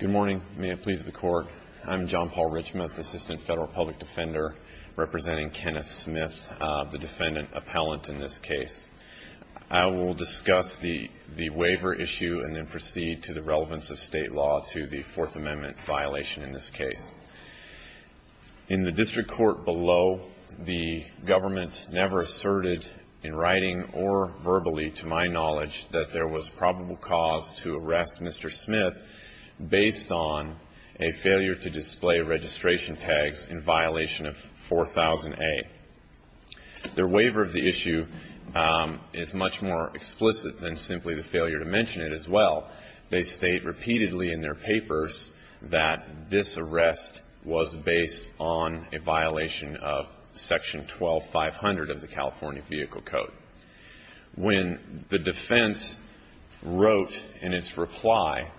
Good morning. May it please the Court. I'm John Paul Richmond, Assistant Federal Public Defender, representing Kenneth Smith, the defendant appellant in this case. I will discuss the waiver issue and then proceed to the relevance of state law to the Fourth Amendment violation in this case. In the district court below, the government never asserted in writing or verbally, to my knowledge, that there was probable cause to arrest Mr. Smith based on a failure to display registration tags in violation of 4000A. Their waiver of the issue is much more explicit than simply the failure to mention it as well. They state repeatedly in their papers that this arrest was based on a violation of section 12-500 of the California Vehicle Code. When the defense wrote in its reply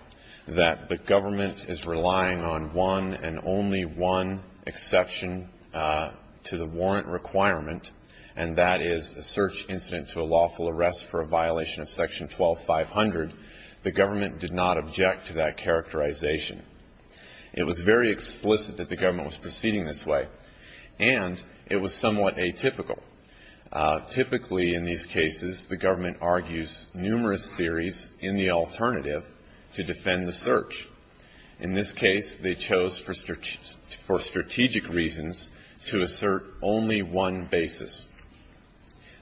that the government is relying on one and only one exception to the warrant requirement, and that is a search incident to a lawful arrest for a violation of section 12-500, the government did not object to that characterization. It was very explicit that the government was proceeding this way, and it was somewhat atypical. Typically, in these cases, the government argues numerous theories in the alternative to defend the search. In this case, they chose for strategic reasons to assert only one basis.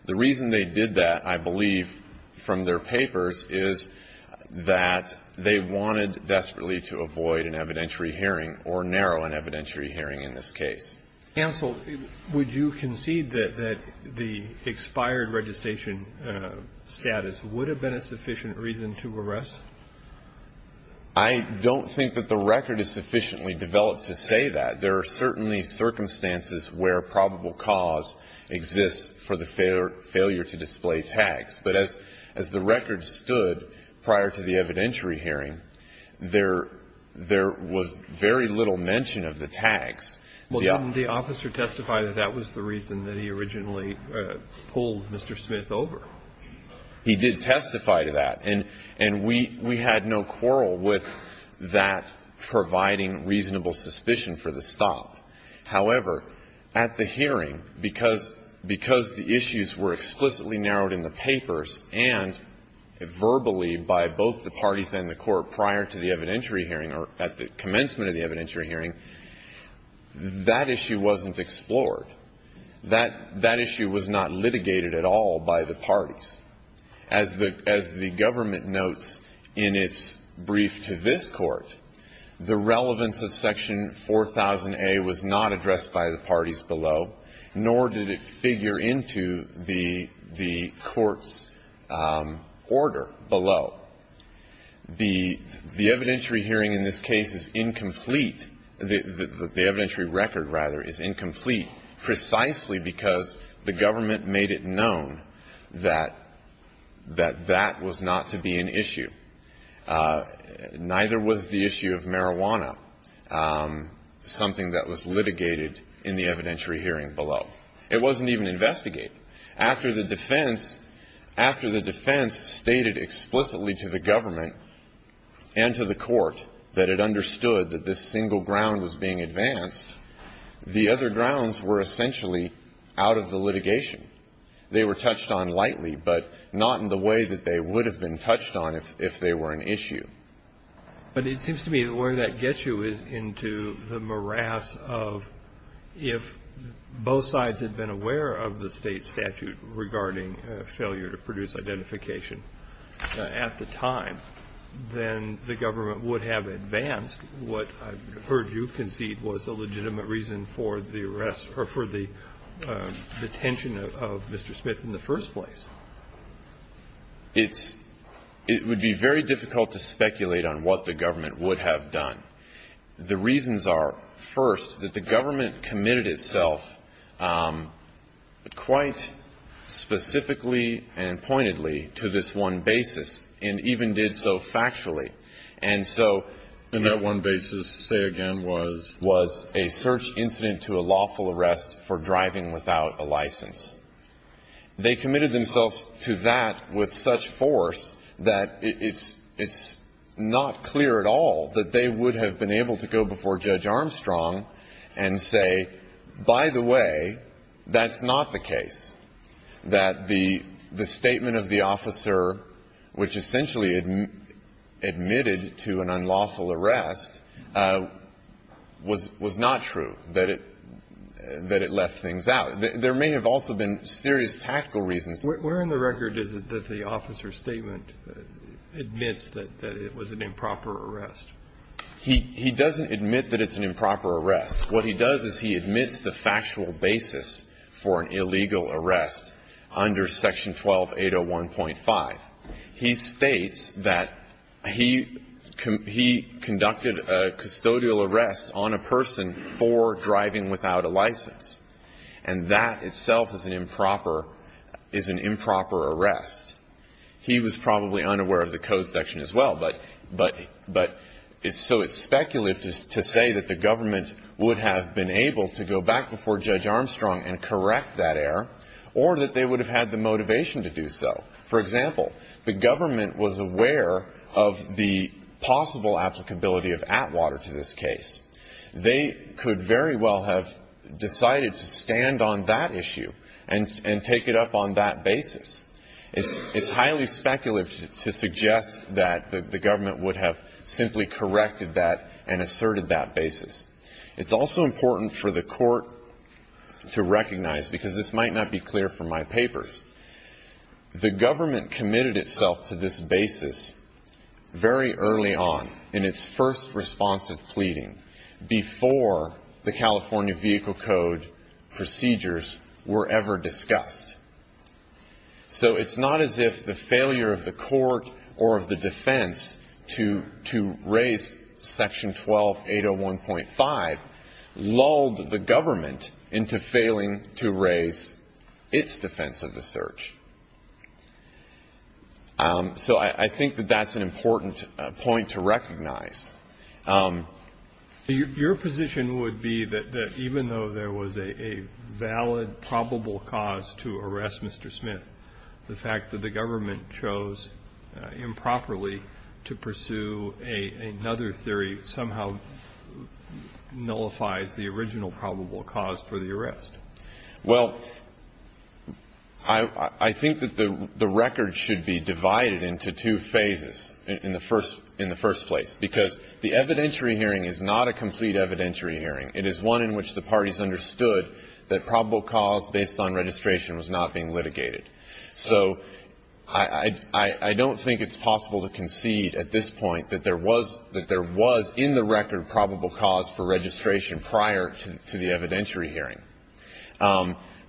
The reason they did that, I believe, from their papers is that they wanted desperately to avoid an evidentiary hearing or narrow an evidentiary hearing in this case. Counsel, would you concede that the expired registration status would have been a sufficient reason to arrest? I don't think that the record is sufficiently developed to say that. There are certainly circumstances where probable cause exists for the failure to display tags. But as the record stood prior to the evidentiary hearing, there was very little mention of the tags. Well, didn't the officer testify that that was the reason that he originally pulled Mr. Smith over? He did testify to that. And we had no quarrel with that providing reasonable suspicion for the stop. However, at the hearing, because the issues were explicitly narrowed in the papers and verbally by both the parties and the Court prior to the evidentiary hearing or at the commencement of the evidentiary hearing, that issue wasn't explored. That issue was not litigated at all by the parties. As the government notes in its brief to this Court, the relevance of Section 4000A was not addressed by the parties below, nor did it figure into the Court's order below. The evidentiary hearing in this case is incomplete. The evidentiary record, rather, is incomplete precisely because the government made it known that that was not to be an issue. Neither was the issue of marijuana something that was litigated in the evidentiary hearing below. It wasn't even investigated. After the defense stated explicitly to the government and to the Court that it understood that this single ground was being advanced, the other grounds were essentially out of the litigation. They were touched on lightly, but not in the way that they would have been touched on if they were an issue. But it seems to me that where that gets you is into the morass of if both sides had been aware of the State statute regarding failure to produce identification at the time, then the government would have advanced what I've heard you concede was a legitimate reason for the arrest or for the detention of Mr. Smith in the first place. It's – it would be very difficult to speculate on what the government would have done. The reasons are, first, that the government committed itself quite specifically and pointedly to this one basis and even did so factually. And so – And that one basis, say again, was? Was a search incident to a lawful arrest for driving without a license. They committed themselves to that with such force that it's – it's not clear at all that they would have been able to go before Judge Armstrong and say, by the way, that's not the case, that the – the statement of the officer, which essentially admitted to an unlawful arrest, was – was not true, that it – that it left things out. There may have also been serious tactical reasons. Where in the record is it that the officer's statement admits that it was an improper arrest? He – he doesn't admit that it's an improper arrest. What he does is he admits the factual basis for an illegal arrest under Section 12801.5. He states that he – he conducted a custodial arrest on a person for driving without a license. And that itself is an improper – is an improper arrest. He was probably unaware of the code section as well, but – but – but it's so speculative to say that the government would have been able to go back before Judge Armstrong and correct that error, or that they would have had the motivation to do so. For example, the government was aware of the possible applicability of Atwater to this case. They could very well have decided to stand on that issue and – and take it up on that basis. It's – it's highly speculative to suggest that the government would have simply corrected that and asserted that basis. It's also important for the court to recognize, because this might not be clear from my papers, the government committed itself to this basis very early on in its first response of pleading, before the California Vehicle Code procedures were ever discussed. So it's not as if the failure of the court or of the defense to – to raise Section 12801.5 lulled the government into failing to raise its defense of the search. So I think that that's an important point to recognize. Your position would be that even though there was a valid probable cause to arrest Mr. Smith, the fact that the government chose improperly to pursue another theory somehow nullifies the original probable cause for the arrest? Well, I – I think that the – the record should be divided into two phases in the first – in the first place, because the evidentiary hearing is not a complete evidentiary hearing. It is one in which the parties understood that probable cause based on registration was not being litigated. So I – I don't think it's possible to concede at this point that there was – that there was in the record probable cause for registration prior to the evidentiary hearing.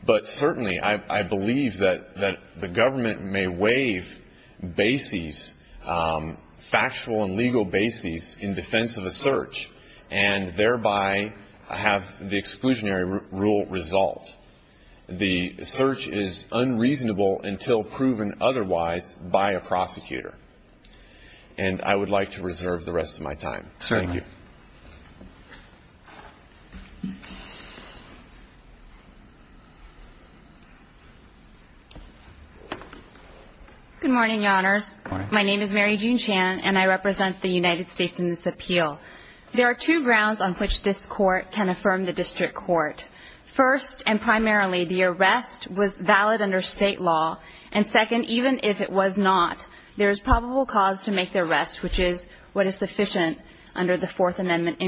But certainly, I – I believe that – that the government may waive bases, factual and legal bases, in defense of a search and thereby have the exclusionary rule resolved. The search is unreasonable until proven otherwise by a prosecutor. And I would like to reserve the rest of my time. Thank you. Good morning, Your Honors. Good morning. My name is Mary Jean Chan, and I represent the United States in this appeal. There are two grounds on which this court can affirm the district court. First, and primarily, the arrest was valid under state law. And second, even if it was not, there is probable cause to make the arrest, which is what is sufficient under the Fourth Amendment.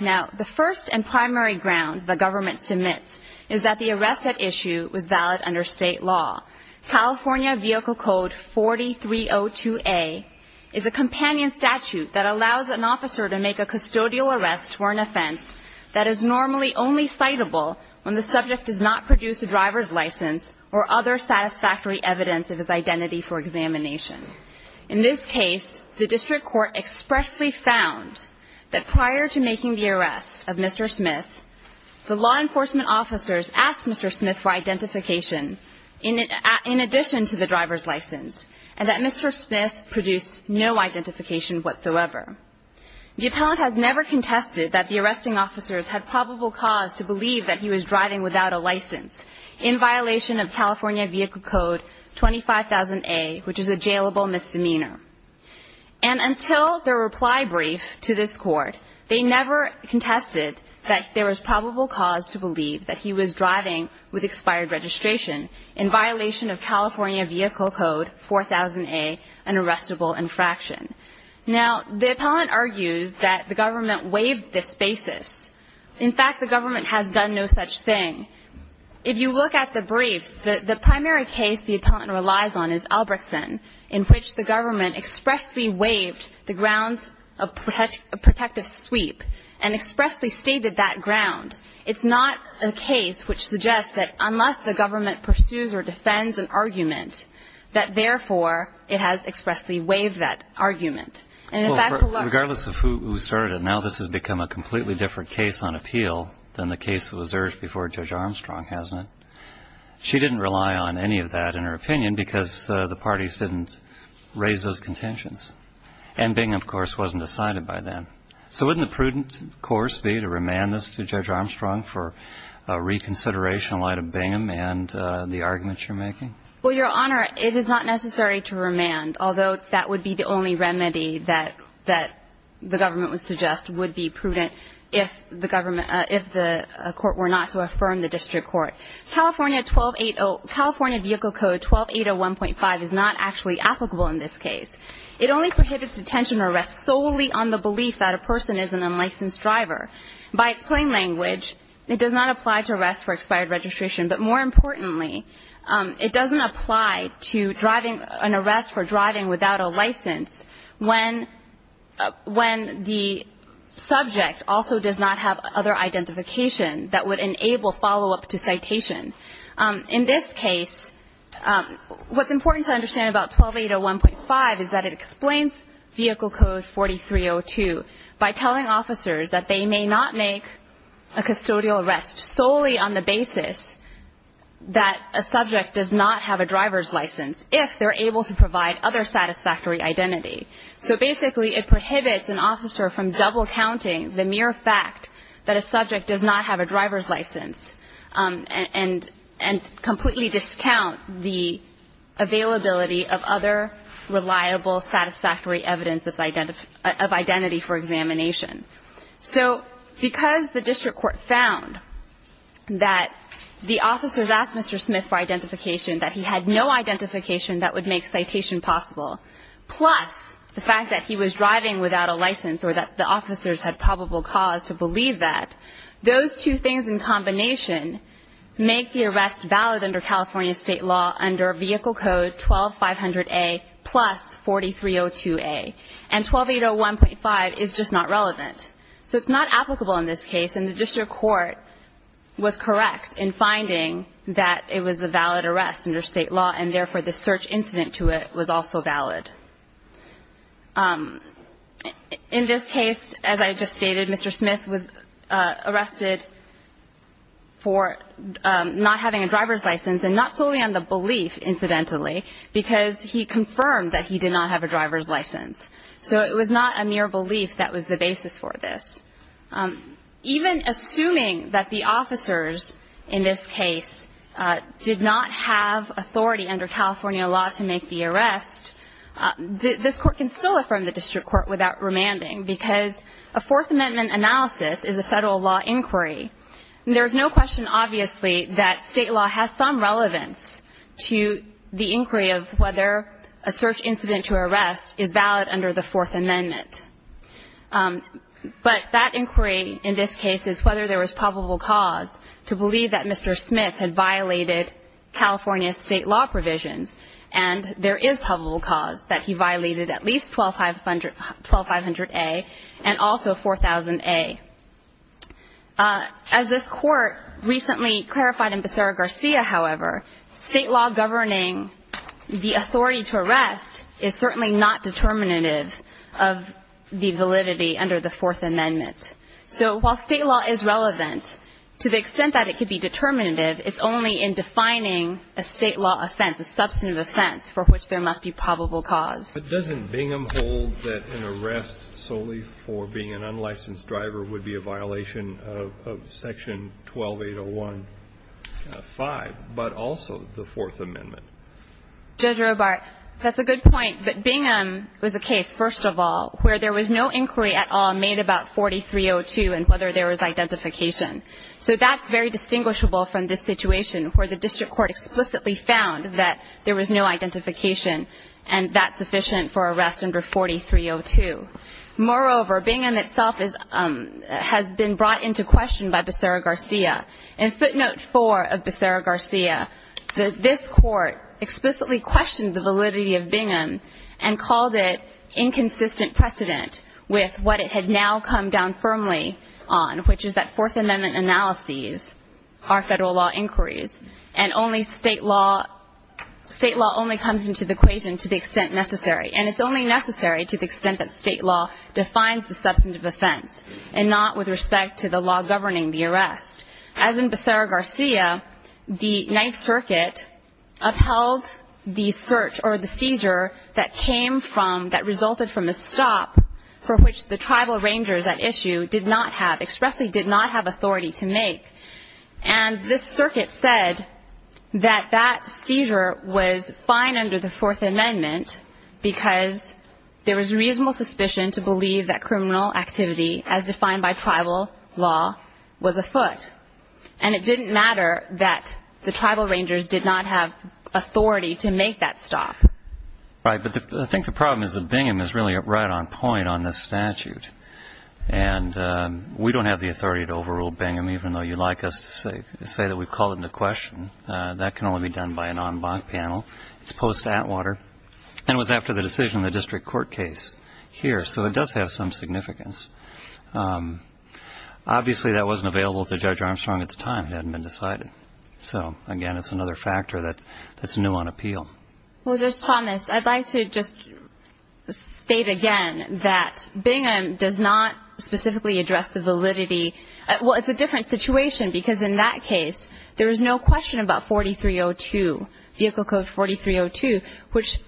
Now, the first and primary ground the government submits is that the arrest at issue was valid under state law. California Vehicle Code 4302A is a companion statute that allows an officer to make a custodial arrest for an offense that is normally only citable when the subject does not produce a driver's license or other satisfactory evidence of his identity for examination. In this case, the district court expressly found that prior to making the arrest of Mr. Smith, the law enforcement officers asked Mr. Smith for identification in addition to the driver's license, and that Mr. Smith produced no identification whatsoever. The appellant has never contested that the arresting officers had probable cause to believe that he was driving without a license in violation of And until their reply brief to this court, they never contested that there was probable cause to believe that he was driving with expired registration in violation of California Vehicle Code 4000A, an arrestable infraction. Now, the appellant argues that the government waived this basis. In fact, the government has done no such thing. If you look at the briefs, the primary case the appellant relies on is in which the government expressly waived the grounds of protective sweep and expressly stated that ground. It's not a case which suggests that unless the government pursues or defends an argument, that therefore it has expressly waived that argument. And in fact, the law ---- Well, regardless of who started it, now this has become a completely different case on appeal than the case that was urged before Judge Armstrong, hasn't it? She didn't rely on any of that in her opinion because the parties didn't raise those contentions. And Bingham, of course, wasn't decided by them. So wouldn't the prudent course be to remand this to Judge Armstrong for reconsideration in light of Bingham and the arguments you're making? Well, Your Honor, it is not necessary to remand, although that would be the only remedy that the government would suggest would be prudent if the government said California 1280 ---- California Vehicle Code 12801.5 is not actually applicable in this case. It only prohibits detention or arrest solely on the belief that a person is an unlicensed driver. By its plain language, it does not apply to arrest for expired registration. But more importantly, it doesn't apply to driving ---- an arrest for driving without a license when the subject also does not have other identification that would enable follow-up to citation. In this case, what's important to understand about 12801.5 is that it explains Vehicle Code 4302 by telling officers that they may not make a custodial arrest solely on the basis that a subject does not have a driver's license if they're able to provide other satisfactory identity. So basically, it prohibits an officer from double-counting the mere fact that a subject does not have a driver's license and completely discount the availability of other reliable, satisfactory evidence of identity for examination. So because the district court found that the officers asked Mr. Smith for identification, that he had no identification that would make citation possible, plus the fact that he was driving without a license or that the officers had probable cause to believe that, those two things in combination make the arrest valid under California State law under Vehicle Code 12500A plus 4302A. And 12801.5 is just not relevant. So it's not applicable in this case, and the district court was correct in finding that it was a valid arrest under State law, and therefore, the search incident to it was also valid. In this case, as I just stated, Mr. Smith was arrested for not having a driver's license and not solely on the belief, incidentally, because he confirmed that he did not have a driver's license. So it was not a mere belief that was the basis for this. Even assuming that the officers in this case did not have authority under California law to make the arrest, this court can still affirm the district court without remanding, because a Fourth Amendment analysis is a Federal law inquiry. There is no question, obviously, that State law has some relevance to the inquiry of whether a search incident to arrest is valid under the Fourth Amendment. But that inquiry in this case is whether there was probable cause to believe that and there is probable cause that he violated at least 12500A and also 4000A. As this court recently clarified in Becerra-Garcia, however, State law governing the authority to arrest is certainly not determinative of the validity under the Fourth Amendment. So while State law is relevant, to the extent that it could be determinative, it's only in defining a State law offense, a substantive offense, for which there must be probable cause. But doesn't Bingham hold that an arrest solely for being an unlicensed driver would be a violation of Section 12801.5, but also the Fourth Amendment? Judge Robart, that's a good point. But Bingham was a case, first of all, where there was no inquiry at all made about 4302 and whether there was identification. So that's very distinguishable from this situation where the district court explicitly found that there was no identification and that's sufficient for arrest under 4302. Moreover, Bingham itself has been brought into question by Becerra-Garcia. In footnote 4 of Becerra-Garcia, this court explicitly questioned the validity of Bingham and called it inconsistent precedent with what it had now come down firmly on, which is that Fourth Amendment analyses are Federal law inquiries and only State law only comes into the equation to the extent necessary. And it's only necessary to the extent that State law defines the substantive offense and not with respect to the law governing the arrest. As in Becerra-Garcia, the Ninth Circuit upheld the search or the seizure that came from, that resulted from a stop for which the tribal rangers at issue did not have, expressly did not have authority to make. And this circuit said that that seizure was fine under the Fourth Amendment because there was reasonable suspicion to believe that criminal activity, as defined by tribal law, was afoot. And it didn't matter that the tribal rangers did not have authority to make that stop. Right. But I think the problem is that Bingham is really right on point on this statute. And we don't have the authority to overrule Bingham, even though you'd like us to say that we've called it into question. That can only be done by an en banc panel, as opposed to Atwater. And it was after the decision in the district court case here, so it does have some significance. Obviously, that wasn't available to Judge Armstrong at the time. It hadn't been decided. So, again, it's another factor that's new on appeal. Well, Judge Thomas, I'd like to just state again that Bingham does not specifically address the validity. Well, it's a different situation because, in that case, there is no question about 4302, Vehicle Code 4302, which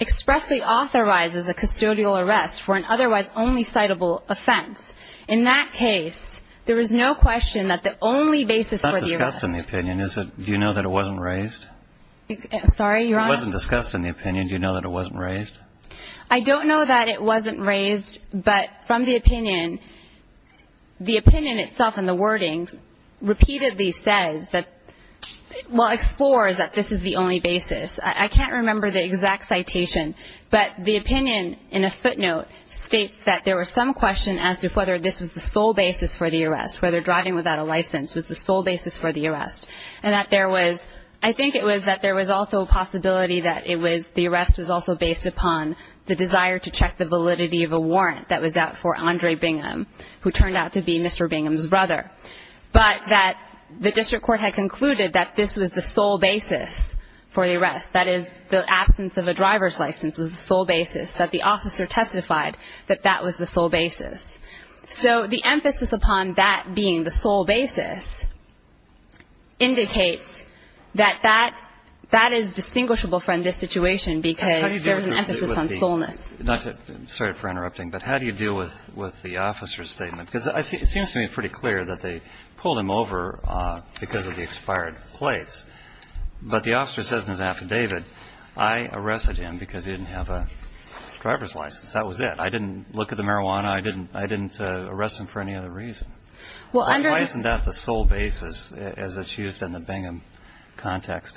expressly authorizes a custodial arrest for an otherwise only citable offense. In that case, there is no question that the only basis for the arrest. It's not discussed in the opinion. Do you know that it wasn't raised? I'm sorry, Your Honor? It wasn't discussed in the opinion. Do you know that it wasn't raised? I don't know that it wasn't raised, but from the opinion, the opinion itself in the wording repeatedly says that, well, explores that this is the only basis. I can't remember the exact citation, but the opinion in a footnote states that there was some question as to whether this was the sole basis for the arrest, whether driving without a license was the sole basis for the arrest, and that there was, I think it was that there was also a possibility that it was, the arrest was also based upon the desire to check the validity of a warrant that was out for Andre Bingham, who turned out to be Mr. Bingham's brother, but that the district court had concluded that this was the sole basis for the arrest, that is, the absence of a driver's license was the sole basis, that the officer testified that that was the sole basis. So the emphasis upon that being the sole basis indicates that that is distinguishable from this situation because there's an emphasis on soleness. I'm sorry for interrupting, but how do you deal with the officer's statement? Because it seems to me pretty clear that they pulled him over because of the expired plates, but the officer says in his affidavit, I arrested him because he didn't have a driver's license. That was it. I didn't look at the marijuana. I didn't arrest him for any other reason. Why isn't that the sole basis as it's used in the Bingham context?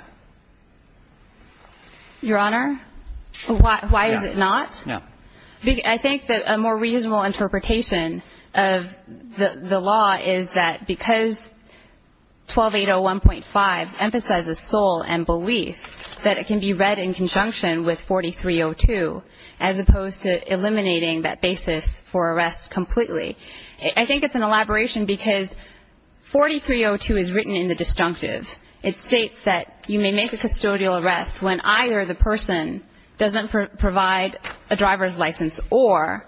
Your Honor, why is it not? Yeah. I think that a more reasonable interpretation of the law is that because 12801.5 emphasizes sole and belief, that it can be read in conjunction with 4302, as opposed to eliminating that basis for arrest completely. I think it's an elaboration because 4302 is written in the disjunctive. It states that you may make a custodial arrest when either the person doesn't provide a driver's license or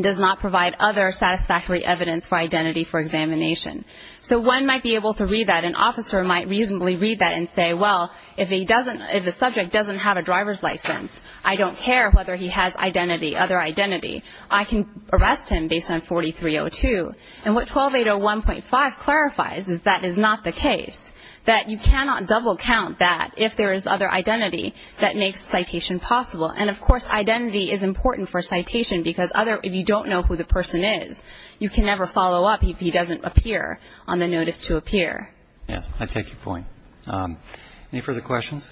does not provide other satisfactory evidence for identity for examination. So one might be able to read that. An officer might reasonably read that and say, well, if the subject doesn't have a driver's license, I don't care whether he has identity, other identity. I can arrest him based on 4302. And what 12801.5 clarifies is that is not the case, that you cannot double count that if there is other identity that makes citation possible. And, of course, identity is important for citation because if you don't know who the person is, you can never follow up if he doesn't appear on the notice to appear. Yes. I take your point. Any further questions?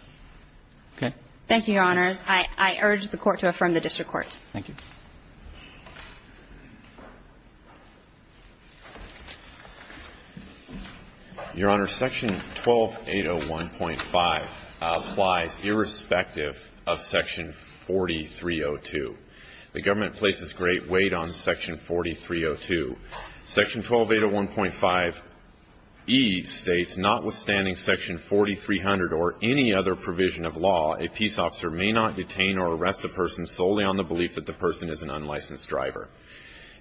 Okay. Thank you, Your Honors. I urge the Court to affirm the district court. Thank you. Your Honors, section 12801.5 applies irrespective of section 4302. The government places great weight on section 4302. Section 12801.5e states, notwithstanding section 4300 or any other provision of law, a peace officer may not detain or arrest a person solely on the belief that the person is an unlicensed driver.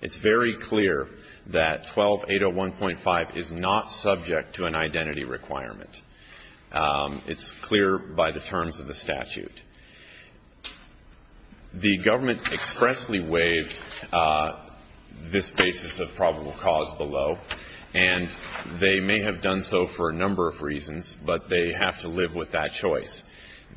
It's very clear that 12801.5 is not subject to an identity requirement. It's clear by the terms of the statute. The government expressly waived this basis of probable cause below, but they have to live with that choice.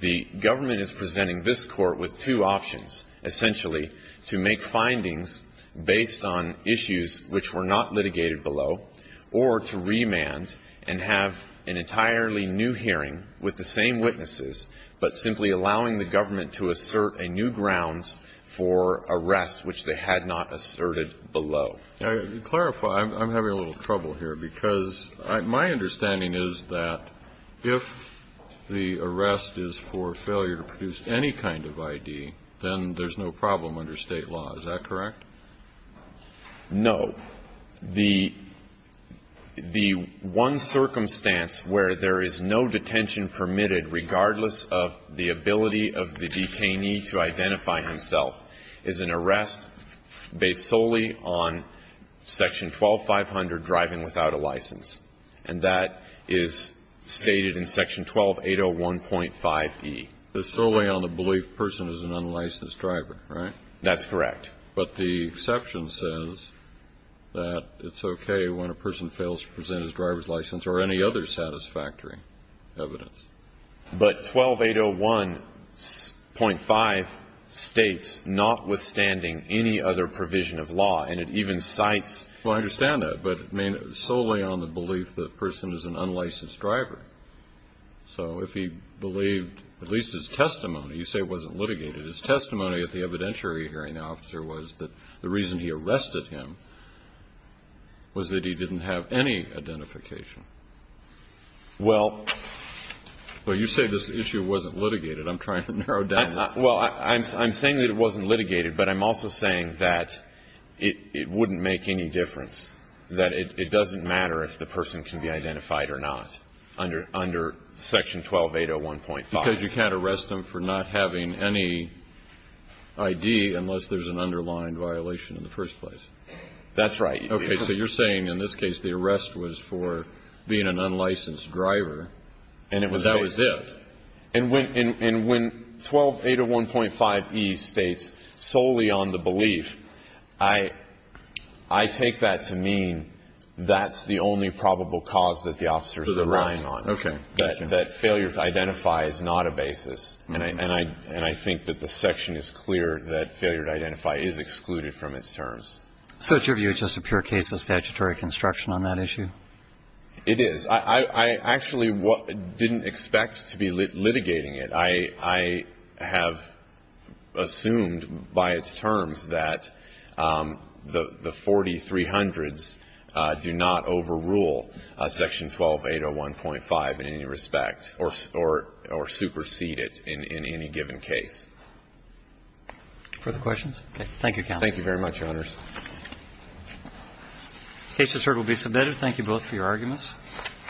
The government is presenting this Court with two options, essentially, to make findings based on issues which were not litigated below, or to remand and have an entirely new hearing with the same witnesses, but simply allowing the government to assert a new grounds for arrests which they had not asserted below. Now, to clarify, I'm having a little trouble here, because my understanding is that if the arrest is for failure to produce any kind of ID, then there's no problem under State law. Is that correct? No. The one circumstance where there is no detention permitted, regardless of the ability of the detainee to identify himself, is an arrest based solely on Section 12500, driving without a license. And that is stated in Section 12801.5e. It's solely on the belief the person is an unlicensed driver, right? That's correct. But the exception says that it's okay when a person fails to present his driver's license or any other satisfactory evidence. But 12801.5 states, notwithstanding any other provision of law, and it even cites Well, I understand that. But, I mean, solely on the belief the person is an unlicensed driver. So if he believed, at least his testimony, you say it wasn't litigated. His testimony at the evidentiary hearing, the officer, was that the reason he arrested him was that he didn't have any identification. Well, you say this issue wasn't litigated. I'm trying to narrow down. Well, I'm saying that it wasn't litigated, but I'm also saying that it wouldn't make any difference, that it doesn't matter if the person can be identified or not under Section 12801.5. Because you can't arrest him for not having any ID unless there's an underlying violation in the first place. That's right. Okay. So you're saying, in this case, the arrest was for being an unlicensed driver and that was it. And when 12801.5e states, solely on the belief, I take that to mean that's the only probable cause that the officers are relying on. Okay. That failure to identify is not a basis. And I think that the section is clear that failure to identify is excluded from its terms. So it's your view it's just a pure case of statutory construction on that issue? It is. I actually didn't expect to be litigating it. I have assumed by its terms that the 4300s do not overrule Section 12801.5 in any respect or supersede it in any given case. Further questions? Thank you, counsel. Thank you very much, Your Honors. The case is submitted. Thank you both for your arguments.